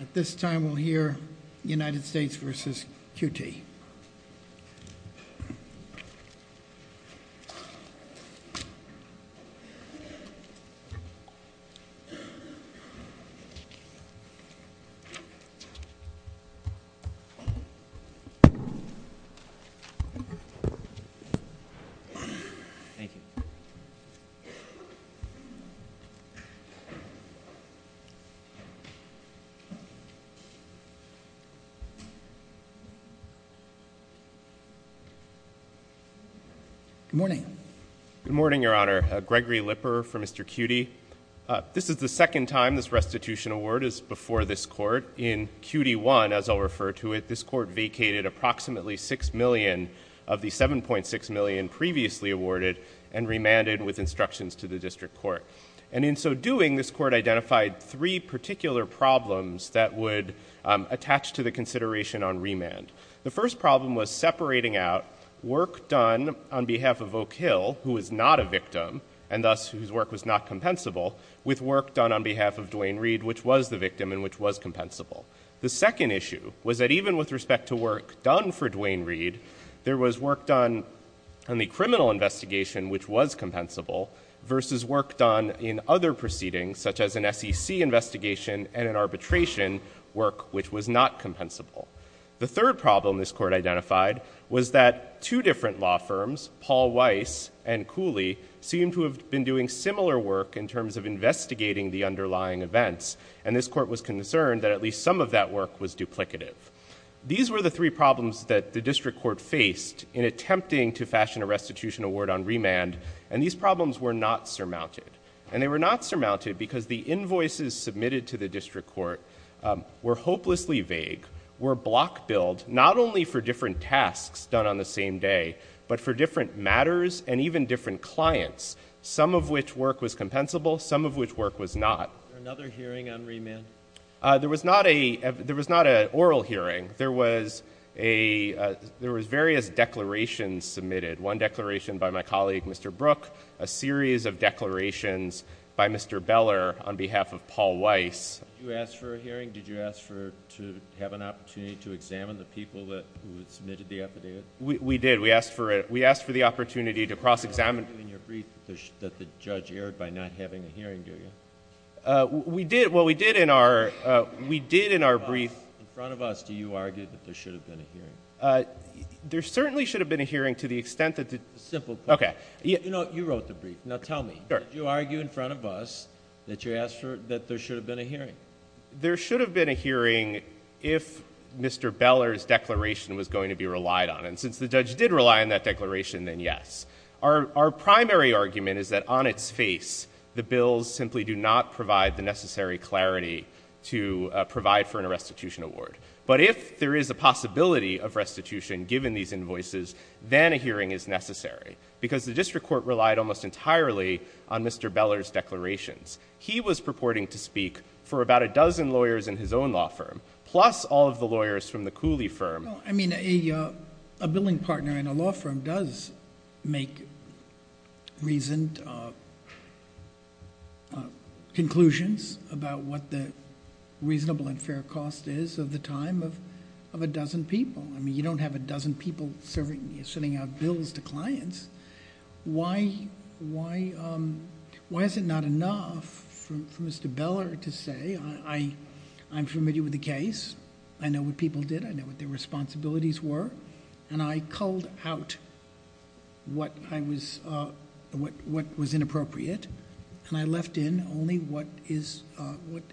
At this time we'll hear United States v. QT. Good morning, Your Honor. Gregory Lipper for Mr. QT. This is the second time this restitution award is before this court. In QT1, as I'll refer to it, this court vacated approximately $6 million of the $7.6 million previously awarded and remanded with instructions to the district court. And in so doing, this court identified three particular problems that would attach to the consideration on remand. The first problem was separating out work done on behalf of Oak Hill, who is not a victim, and thus whose work was not compensable, with work done on behalf of Duane Reed, which was the victim and which was compensable. The second issue was that even with respect to work done for Duane Reed, there was work done on the criminal investigation, which was compensable, versus work done in other proceedings, such as an SEC investigation and an arbitration work, which was not compensable. The third problem this court identified was that two different law firms, Paul Weiss and Cooley, seemed to have been doing similar work in terms of investigating the underlying events. And this court was concerned that at least some of that work was duplicative. These were the three problems that the district court faced in attempting to fashion a restitution award on remand. And these problems were not surmounted. And they were not surmounted because the invoices submitted to the district court were hopelessly vague, were block-billed, not only for different tasks done on the same day, but for different matters and even different clients, some of which work was compensable, some of which work was not. Another hearing on remand? There was not an oral hearing. There was various declarations submitted. One declaration by my colleague, Mr. Brooke, a series of declarations by Mr. Beller on behalf of Paul Weiss. You asked for a hearing? Did you ask for, to have an opportunity to examine the people who had submitted the affidavit? We did. We asked for the opportunity to cross-examine- You argued in your brief that the judge erred by not having a hearing, do you? We did. Well, we did in our, we did in our brief- In front of us, do you argue that there should have been a hearing? There certainly should have been a hearing to the extent that the- Simple- Okay. You know, you wrote the brief. Now tell me, did you argue in front of us that you asked for, that there should have been a hearing? There should have been a hearing if Mr. Beller's declaration was going to be relied on. And since the judge did rely on that declaration, then yes. Our primary argument is that on its face, the bills simply do not provide the necessary clarity to provide for an arrestitution award. But if there is a possibility of restitution given these invoices, then a hearing is necessary. Because the district court relied almost entirely on Mr. Beller's declarations. He was purporting to speak for about a dozen lawyers in his own law firm, plus all of the lawyers from the Cooley firm. I mean, a billing partner in a law firm does make reasoned conclusions about what the reasonable and fair cost is of the time of a dozen people. I mean, you don't have a dozen people serving, sending out bills to clients. Why is it not enough for Mr. Beller to say, I'm familiar with the case. I know what people did. I know what their responsibilities were. And I culled out what was inappropriate. And I left in only what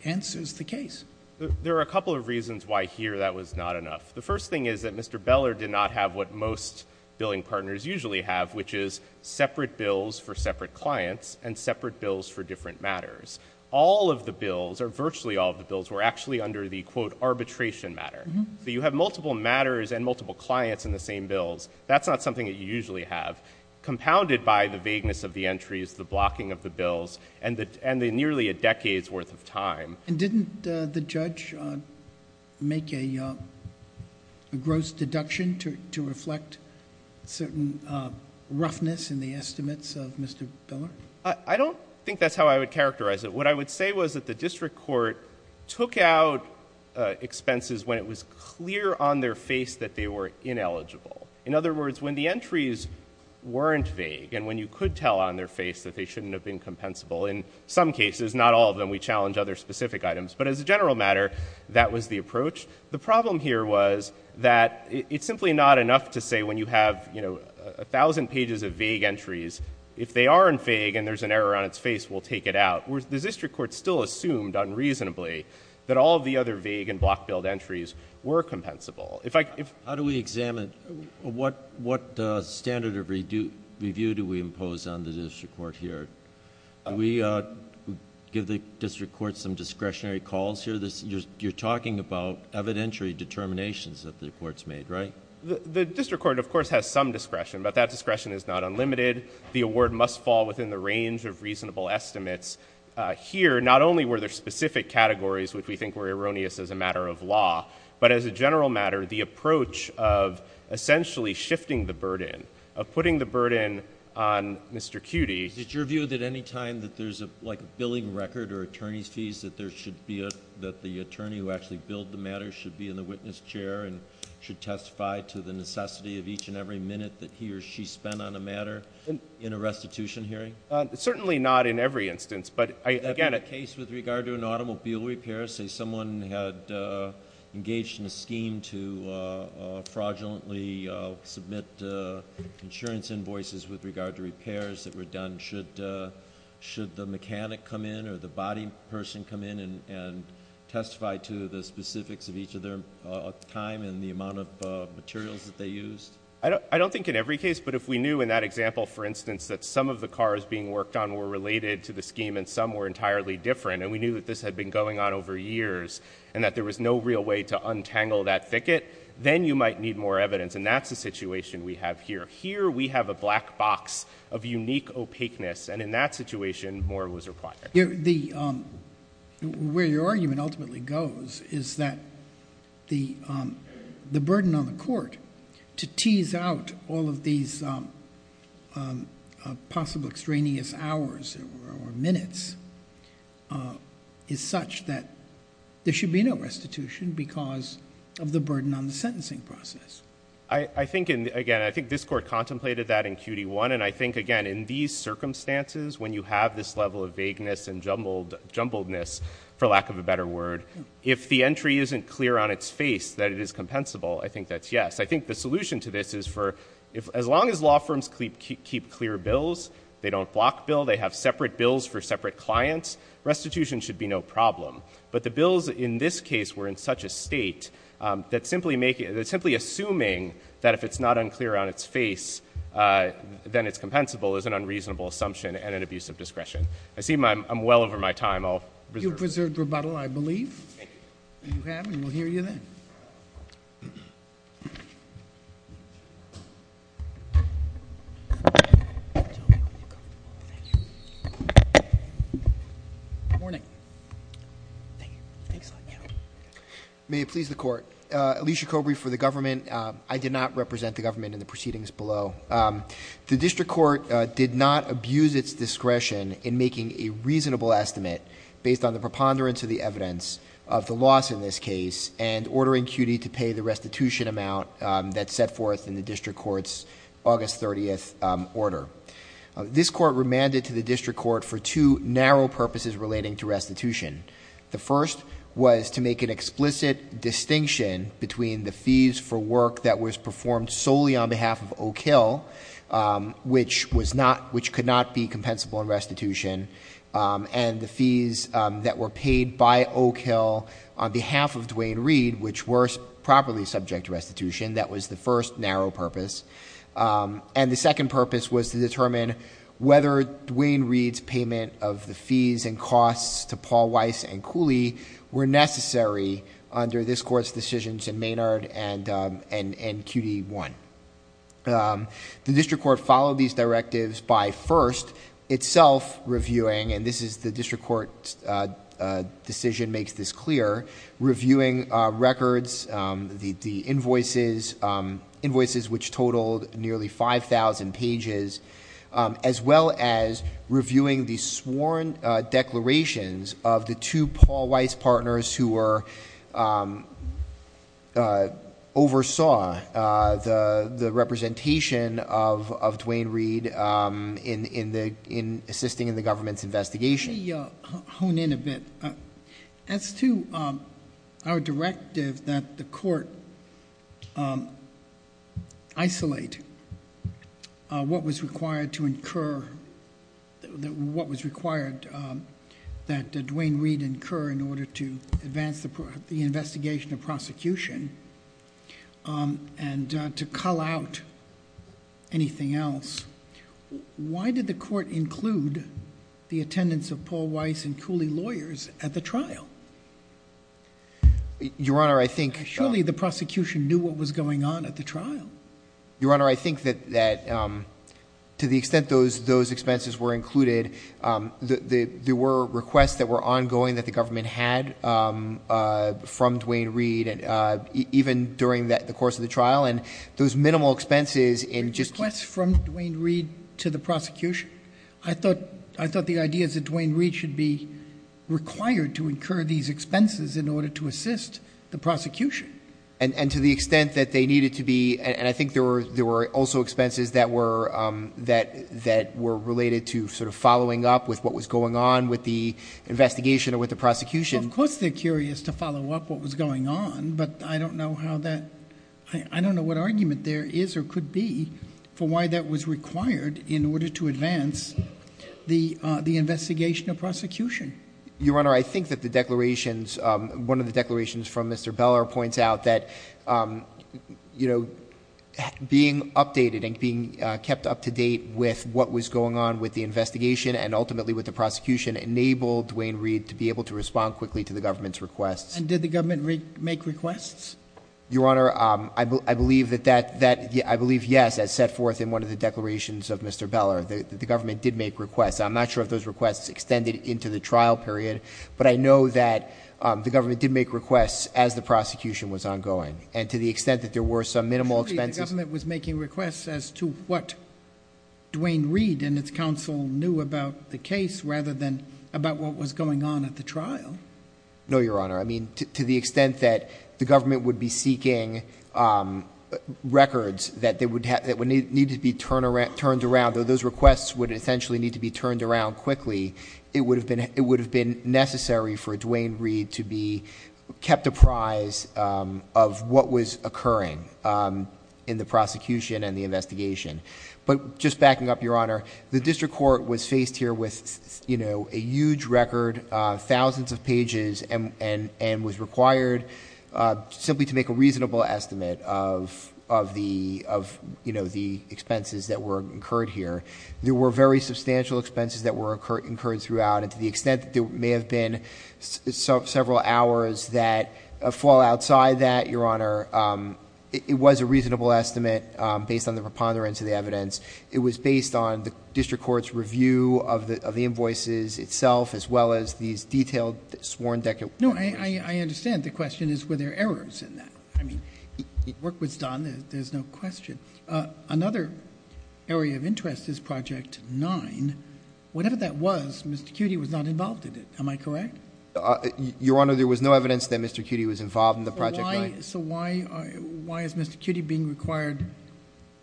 answers the case. There are a couple of reasons why here that was not enough. The first thing is that Mr. Beller did not have what most billing partners usually have, which is separate bills for separate clients and separate bills for different matters. All of the bills, or virtually all of the bills, were actually under the, quote, arbitration matter. You have multiple matters and multiple clients in the same bills. That's not something that you usually have. Compounded by the vagueness of the entries, the blocking of the bills, and the nearly a decade's worth of time. And didn't the judge make a gross deduction to reflect certain roughness in the estimates of Mr. Beller? I don't think that's how I would characterize it. What I would say was that the district court took out expenses when it was clear on their face that they were ineligible. In other words, when the entries weren't vague, and when you could tell on their face that they shouldn't have been compensable, in some cases, not all of them, we challenge other specific items. But as a general matter, that was the approach. The problem here was that it's simply not enough to say when you have a thousand pages of vague entries, if they aren't vague and there's an error on its face, we'll take it out. The district court still assumed unreasonably that all of the other vague and block billed entries were compensable. How do we examine? What standard of review do we impose on the district court here? Do we give the district court some discretionary calls here? You're talking about evidentiary determinations that the court's made, right? The district court, of course, has some discretion, but that discretion is not unlimited. The award must fall within the range of reasonable estimates. Here, not only were there specific categories which we think were erroneous as a matter of law, but as a general matter, the approach of essentially shifting the burden, of putting the burden on Mr. Cutty. Is it your view that any time that there's a billing record or attorney's fees, that the attorney who actually billed the matter should be in the witness chair and should testify to the necessity of each and every minute that he or she spent on a matter in a restitution hearing? Certainly not in every instance. I get it. In the case with regard to an automobile repair, say someone had engaged in a scheme to fraudulently submit insurance invoices with regard to repairs that were done, should the mechanic come in or the body person come in and testify to the specifics of each of their time and the amount of materials that they used? I don't think in every case, but if we knew in that example, for instance, that some of the cars being worked on were related to the scheme and some were entirely different, and we knew that this had been going on over years and that there was no real way to untangle that thicket, then you might need more evidence. And that's the situation we have here. Here we have a black box of unique opaqueness. And in that situation, more was required. Where your argument ultimately goes is that the burden on the court to tease out all of these possible extraneous hours or minutes is such that there should be no restitution because of the burden on the sentencing process. I think, again, I think this court contemplated that in QD1. And I think, again, in these circumstances, when you have this level of vagueness and jumbledness, for lack of a better word, if the entry isn't clear on its face that it is compensable, I think that's yes. I think the solution to this is for as long as law firms keep clear bills, they don't block bills, they have separate bills for separate clients, restitution should be no problem. But the bills in this case were in such a state that simply assuming that if it's not unclear on its face, then it's compensable is an unreasonable assumption and an abuse of discretion. I seem I'm well over my time. I'll reserve. You've preserved rebuttal, I believe. Thank you. You have? And we'll hear you then. Thank you. Good morning. May it please the court. Alicia Cobrey for the government. I did not represent the government in the proceedings below. The district court did not abuse its discretion in making a reasonable estimate based on the preponderance of the evidence of the loss in this case and ordering QD to pay the restitution amount that's set forth in the district court's August 30th order. This court remanded to the district court for two narrow purposes relating to restitution. The first was to make an explicit distinction between the fees for work that was performed solely on behalf of Oak Hill, which could not be compensable in restitution, and the was the first narrow purpose. And the second purpose was to determine whether Duane Reed's payment of the fees and costs to Paul Weiss and Cooley were necessary under this court's decisions in Maynard and QD1. The district court followed these directives by first itself reviewing, and this is the invoices which totaled nearly 5,000 pages, as well as reviewing the sworn declarations of the two Paul Weiss partners who were oversaw the representation of Duane Reed in assisting in the government's investigation. Let me hone in a bit. As to our directive that the court isolate what was required that Duane Reed incur in order to advance the investigation of prosecution and to cull out anything else, why did the court include the attendance of Paul Weiss and Cooley lawyers at the trial? Your Honor, I think- Surely the prosecution knew what was going on at the trial. Your Honor, I think that to the extent those expenses were included, there were requests that were ongoing that the government had from Duane Reed, even during the course of the trial, and those minimal expenses in just- To the prosecution? I thought the idea is that Duane Reed should be required to incur these expenses in order to assist the prosecution. And to the extent that they needed to be, and I think there were also expenses that were related to sort of following up with what was going on with the investigation or with the prosecution. Of course they're curious to follow up what was going on, but I don't know how that, I don't know what argument there is or could be for why that was required in order to advance the investigation of prosecution. Your Honor, I think that the declarations, one of the declarations from Mr. Beller points out that being updated and being kept up to date with what was going on with the investigation and ultimately with the prosecution enabled Duane Reed to be able to respond quickly to the government's requests. And did the government make requests? Your Honor, I believe yes, as set forth in one of the declarations of Mr. Beller. The government did make requests. I'm not sure if those requests extended into the trial period, but I know that the government did make requests as the prosecution was ongoing. And to the extent that there were some minimal expenses- Surely the government was making requests as to what Duane Reed and its counsel knew about the case rather than about what was going on at the trial. No, Your Honor. I mean, to the extent that the government would be seeking records that would need to be turned around, though those requests would essentially need to be turned around quickly, it would have been necessary for Duane Reed to be kept apprised of what was occurring in the prosecution and the investigation. But just backing up, Your Honor, the district court was faced here with a huge record, thousands of pages, and was required simply to make a reasonable estimate of the expenses that were incurred here. There were very substantial expenses that were incurred throughout. And to the extent that there may have been several hours that fall outside that, Your Honor, it was a reasonable estimate based on the preponderance of the evidence. It was based on the district court's review of the invoices itself as well as these detailed sworn- No, I understand. The question is, were there errors in that? I mean, work was done. There's no question. Another area of interest is Project 9. Whatever that was, Mr. Cutie was not involved in it. Am I correct? Your Honor, there was no evidence that Mr. Cutie was involved in the Project 9. So why is Mr. Cutie being required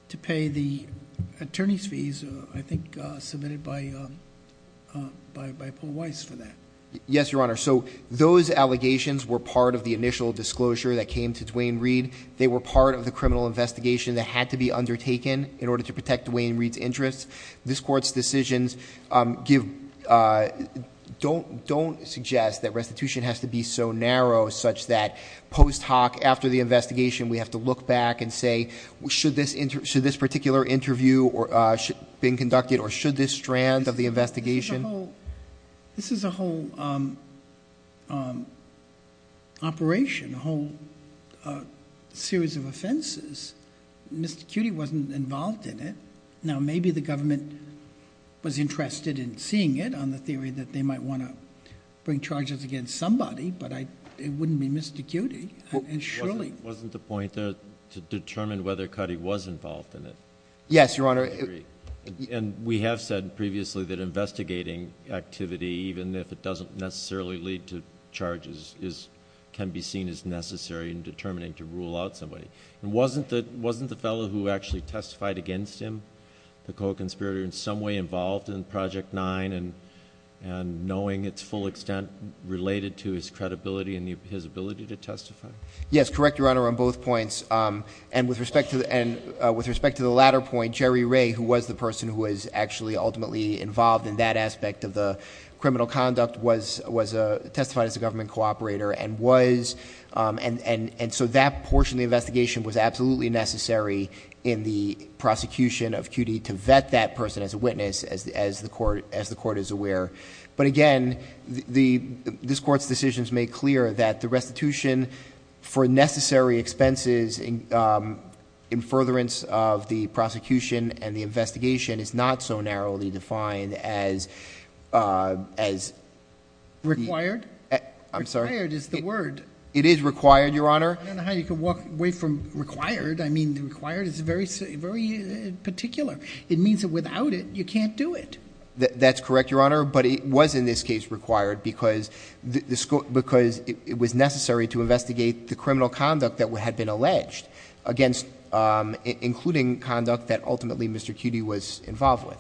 to pay the attorney's fees, I think, submitted by Paul Weiss for that? Yes, Your Honor. So those allegations were part of the initial disclosure that came to Duane Reed. They were part of the criminal investigation that had to be undertaken in order to protect Duane Reed's interests. This court's decisions don't suggest that restitution has to be so After the investigation, we have to look back and say, should this particular interview been conducted, or should this strand of the investigation- This is a whole operation, a whole series of offenses. Mr. Cutie wasn't involved in it. Now, maybe the government was interested in seeing it on the theory that they might want to bring charges against somebody, but it wouldn't be Mr. Cutie. Surely- Wasn't the point there to determine whether Cutie was involved in it? Yes, Your Honor. And we have said previously that investigating activity, even if it doesn't necessarily lead to charges, can be seen as necessary in determining to rule out somebody. And wasn't the fellow who actually testified against him, the co-conspirator, in some way involved in Project 9, and knowing its full extent related to his credibility and his ability to testify? Yes, correct, Your Honor, on both points. And with respect to the latter point, Jerry Ray, who was the person who was actually ultimately involved in that aspect of the criminal conduct, was testified as a government co-operator, and so that portion of the investigation was absolutely necessary in the prosecution of Cutie to vet that person as a witness, as the court is aware. But again, this court's decision's made clear that the restitution for necessary expenses in furtherance of the prosecution and the investigation is not so narrowly defined as- Required? I'm sorry? Required is the word. It is required, Your Honor. I don't know how you could walk away from required. I mean, required is very particular. It means that without it, you can't do it. That's correct, Your Honor, but it was in this case required because it was necessary to investigate the criminal conduct that had been alleged. Again, including conduct that ultimately Mr. Cutie was involved with.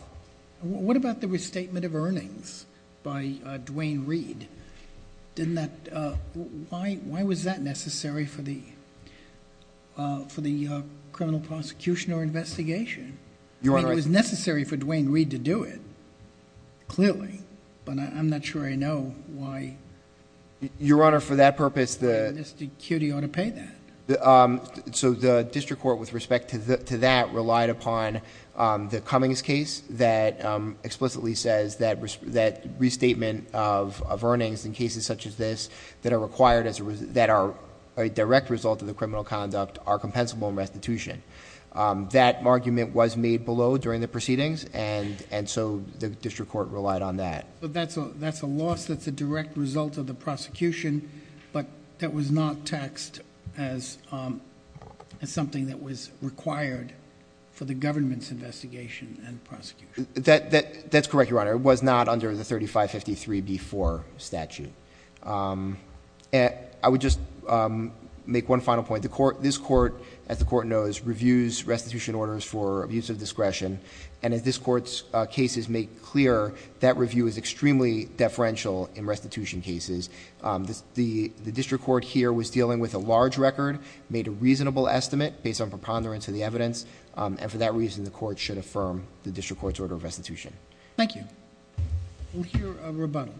What about the restatement of earnings by Dwayne Reed? Didn't that, why was that necessary for the criminal prosecution or investigation? I mean, it was necessary for Dwayne Reed to do it, clearly, but I'm not sure I know why- Your Honor, for that purpose the- Mr. Cutie ought to pay that. So the district court with respect to that relied upon the Cummings case that explicitly says that restatement of earnings in cases such as this that are a direct result of the criminal conduct are compensable in restitution. That argument was made below during the proceedings, and so the district court relied on that. But that's a loss that's a direct result of the prosecution, but that was not taxed as something that was required for the government's investigation and prosecution. That's correct, Your Honor. It was not under the 3553B4 statute. I would just make one final point. This court, as the court knows, reviews restitution orders for abuse of discretion. And as this court's cases make clear, that review is extremely deferential in restitution cases. The district court here was dealing with a large record, made a reasonable estimate based on preponderance of the evidence. And for that reason, the court should affirm the district court's order of restitution. Thank you. We'll hear a rebuttal.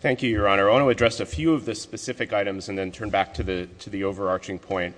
Thank you, Your Honor. I want to address a few of the specific items and then turn back to the overarching point.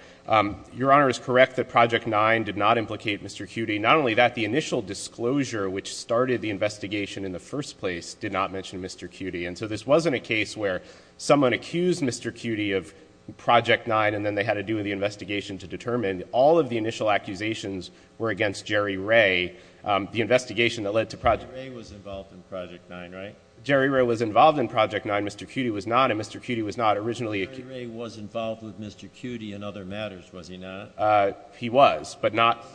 Your Honor is correct that Project 9 did not implicate Mr. Cutie. Not only that, the initial disclosure which started the investigation in the first place did not mention Mr. Cutie. And so this wasn't a case where someone accused Mr. Cutie of Project 9 and then they had to do the investigation to determine all of the initial accusations were against Jerry Ray. The investigation that led to Project- Jerry Ray was involved in Project 9, right? Jerry Ray was involved in Project 9, Mr. Cutie was not, and Mr. Cutie was not originally- Jerry Ray was involved with Mr. Cutie in other matters, was he not? He was, but not-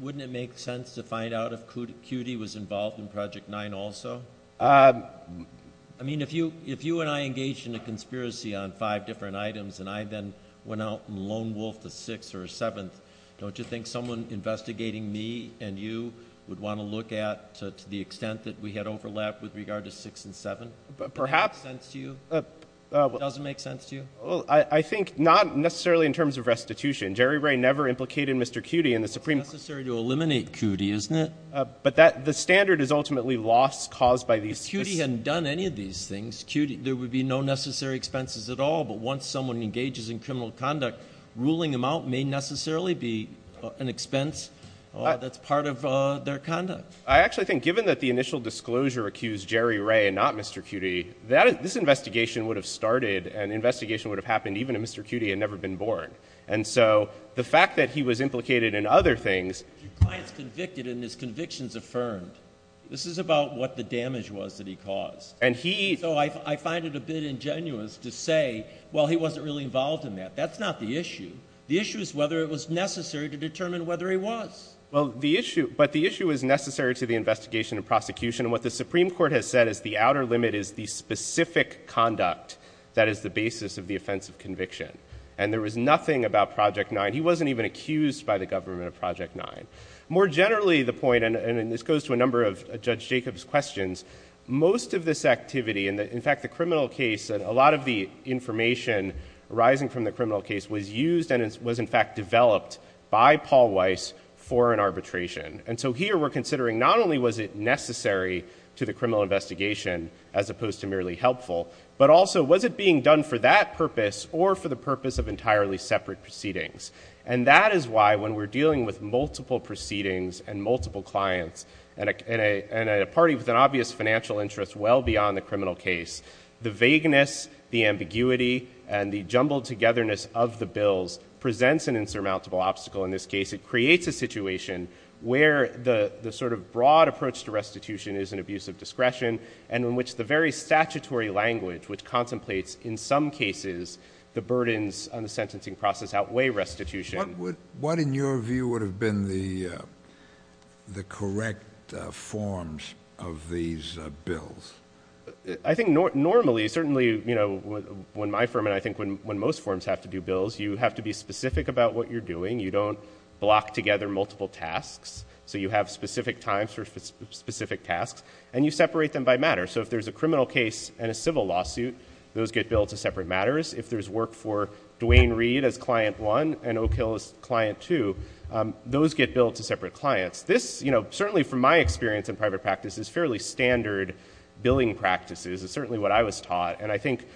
Wouldn't it make sense to find out if Cutie was involved in Project 9 also? I mean, if you and I engaged in a conspiracy on five different items and I then went out and lone wolfed a sixth or a seventh, don't you think someone investigating me and you would want to look at to the extent that we had overlap with regard to six and seven? But perhaps- Does that make sense to you? Does it make sense to you? I think not necessarily in terms of restitution. Jerry Ray never implicated Mr. Cutie in the Supreme- It's necessary to eliminate Cutie, isn't it? But the standard is ultimately loss caused by these- If Cutie hadn't done any of these things, there would be no necessary expenses at all. But once someone engages in criminal conduct, ruling them out may necessarily be an expense that's part of their conduct. I actually think, given that the initial disclosure accused Jerry Ray and not Mr. Cutie, this investigation would have started and the investigation would have happened even if Mr. Cutie had never been born. And so, the fact that he was implicated in other things- If your client's convicted and his conviction's affirmed, this is about what the damage was that he caused. And he- So I find it a bit ingenuous to say, well, he wasn't really involved in that. That's not the issue. The issue is whether it was necessary to determine whether he was. Well, the issue, but the issue is necessary to the investigation and prosecution. And what the Supreme Court has said is the outer limit is the specific conduct that is the basis of the offense of conviction. And there was nothing about Project 9. He wasn't even accused by the government of Project 9. More generally, the point, and this goes to a number of Judge Jacob's questions, most of this activity, in fact, the criminal case, a lot of the information arising from the criminal case was used and was in fact developed by Paul Weiss for an arbitration. And so here, we're considering not only was it necessary to the criminal investigation as opposed to merely helpful, but also was it being done for that purpose or for the purpose of entirely separate proceedings? And that is why when we're dealing with multiple proceedings and multiple clients, and a party with an obvious financial interest well beyond the criminal case, the vagueness, the ambiguity, and the jumbled togetherness of the bills presents an insurmountable obstacle. In this case, it creates a situation where the sort of broad approach to restitution is an abuse of discretion, and in which the very statutory language which contemplates, in some cases, the burdens on the sentencing process outweigh restitution. What in your view would have been the correct forms of these bills? I think normally, certainly when my firm, and I think when most firms have to do bills, you have to be specific about what you're doing. You don't block together multiple tasks, so you have specific times for specific tasks. And you separate them by matter. So if there's a criminal case and a civil lawsuit, those get billed to separate matters. If there's work for Dwayne Reed as client one and Oak Hill as client two, those get billed to separate clients. This, certainly from my experience in private practice, is fairly standard billing practices. It's certainly what I was taught. And I think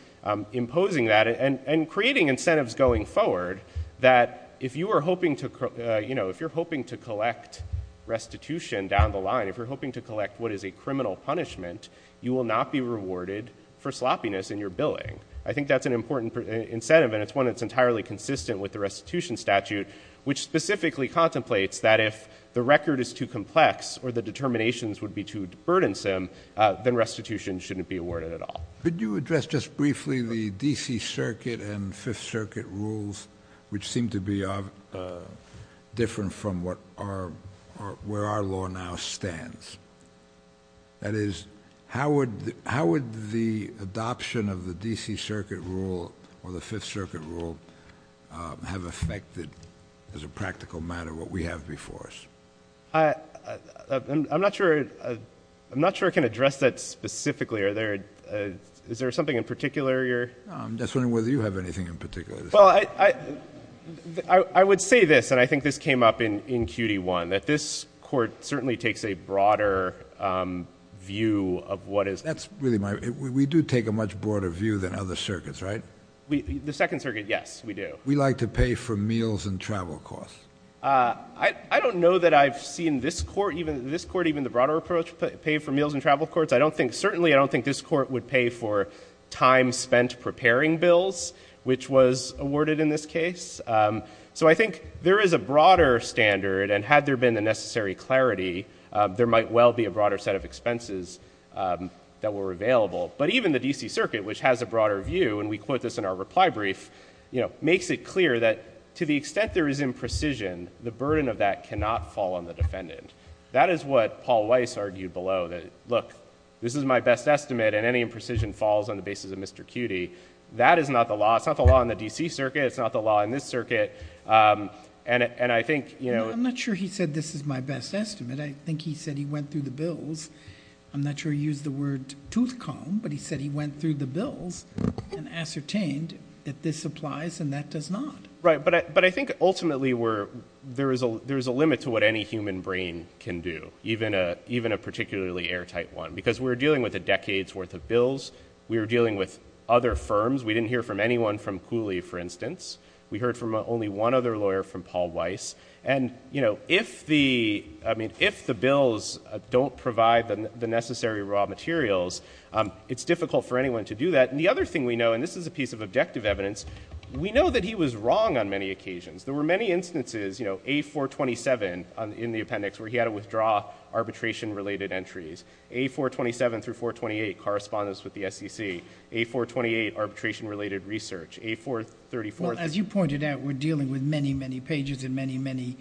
imposing that and creating incentives going forward, that if you're hoping to collect restitution down the line, if you're hoping to collect what is a criminal punishment, you will not be rewarded for sloppiness in your billing. I think that's an important incentive, and it's one that's entirely consistent with the restitution statute, which specifically contemplates that if the record is too complex or the determinations would be too burdensome, then restitution shouldn't be awarded at all. Could you address just briefly the DC Circuit and Fifth Circuit rules, which seem to be different from where our law now stands? That is, how would the adoption of the DC Circuit rule or the Fifth Circuit rule have affected, as a practical matter, what we have before us? I'm not sure I can address that specifically. Is there something in particular you're- I'm just wondering whether you have anything in particular to say. Well, I would say this, and I think this came up in CUNY 1, that this court certainly takes a broader view of what is- That's really my, we do take a much broader view than other circuits, right? The Second Circuit, yes, we do. We like to pay for meals and travel costs. I don't know that I've seen this court, even the broader approach, pay for meals and travel courts. I don't think, certainly I don't think this court would pay for time spent preparing bills, which was awarded in this case. So I think there is a broader standard, and had there been the necessary clarity, there might well be a broader set of expenses that were available. But even the DC Circuit, which has a broader view, and we quote this in our reply brief, makes it clear that to the extent there is imprecision, the burden of that cannot fall on the defendant. That is what Paul Weiss argued below, that, look, this is my best estimate, and any imprecision falls on the basis of Mr. Cutie. That is not the law. It's not the law in the DC Circuit. It's not the law in this circuit. And I think, you know- I'm not sure he said this is my best estimate. I think he said he went through the bills. I'm not sure he used the word tooth comb, but he said he went through the bills and ascertained that this applies and that does not. Right, but I think ultimately there is a limit to what any human brain can do, even a particularly airtight one, because we're dealing with a decade's worth of bills. We're dealing with other firms. We didn't hear from anyone from Cooley, for instance. We heard from only one other lawyer, from Paul Weiss. And, you know, if the bills don't provide the necessary raw materials, it's difficult for anyone to do that. And the other thing we know, and this is a piece of objective evidence, we know that he was wrong on many occasions. There were many instances, you know, A-427 in the appendix, where he had to withdraw arbitration-related entries. A-427 through 428, correspondence with the SEC. A-428, arbitration-related research. A-434- Well, as you pointed out, we're dealing with many, many pages and many, many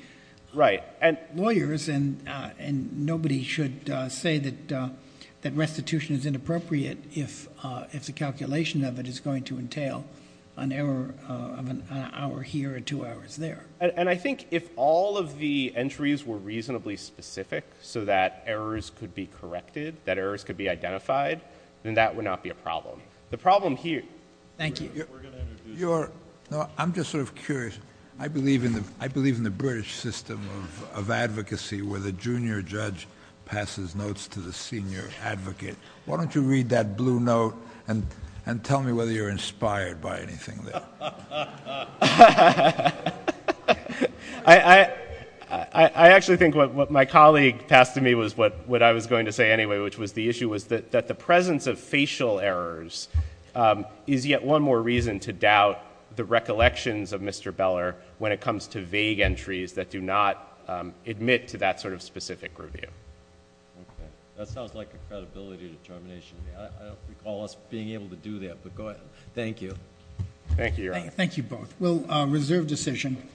lawyers. And nobody should say that restitution is inappropriate if the calculation of it is going to entail an error of an hour here or two hours there..... And I think if all of the entries were reasonably specific, so that errors could be corrected, that errors could be identified, then that would not be a problem. The problem here..... Thank you..... You're... No, I'm just sort of curious. I believe in the British system of advocacy, where the junior judge passes notes to the senior advocate. Why don't you read that blue note and tell me whether you're inspired by anything there? I... I actually think what my colleague passed to me was what I was going to say, anyway, which was the issue was that the presence of facial errors is yet one more reason to doubt the recollections of Mr. Beller when it comes to vague entries that do not admit to that sort of specific review. Okay. That sounds like a credibility determination. I don't recall us being able to do that, but go ahead. Thank you. Thank you, Your Honor. Thank you both. We'll reserve decision.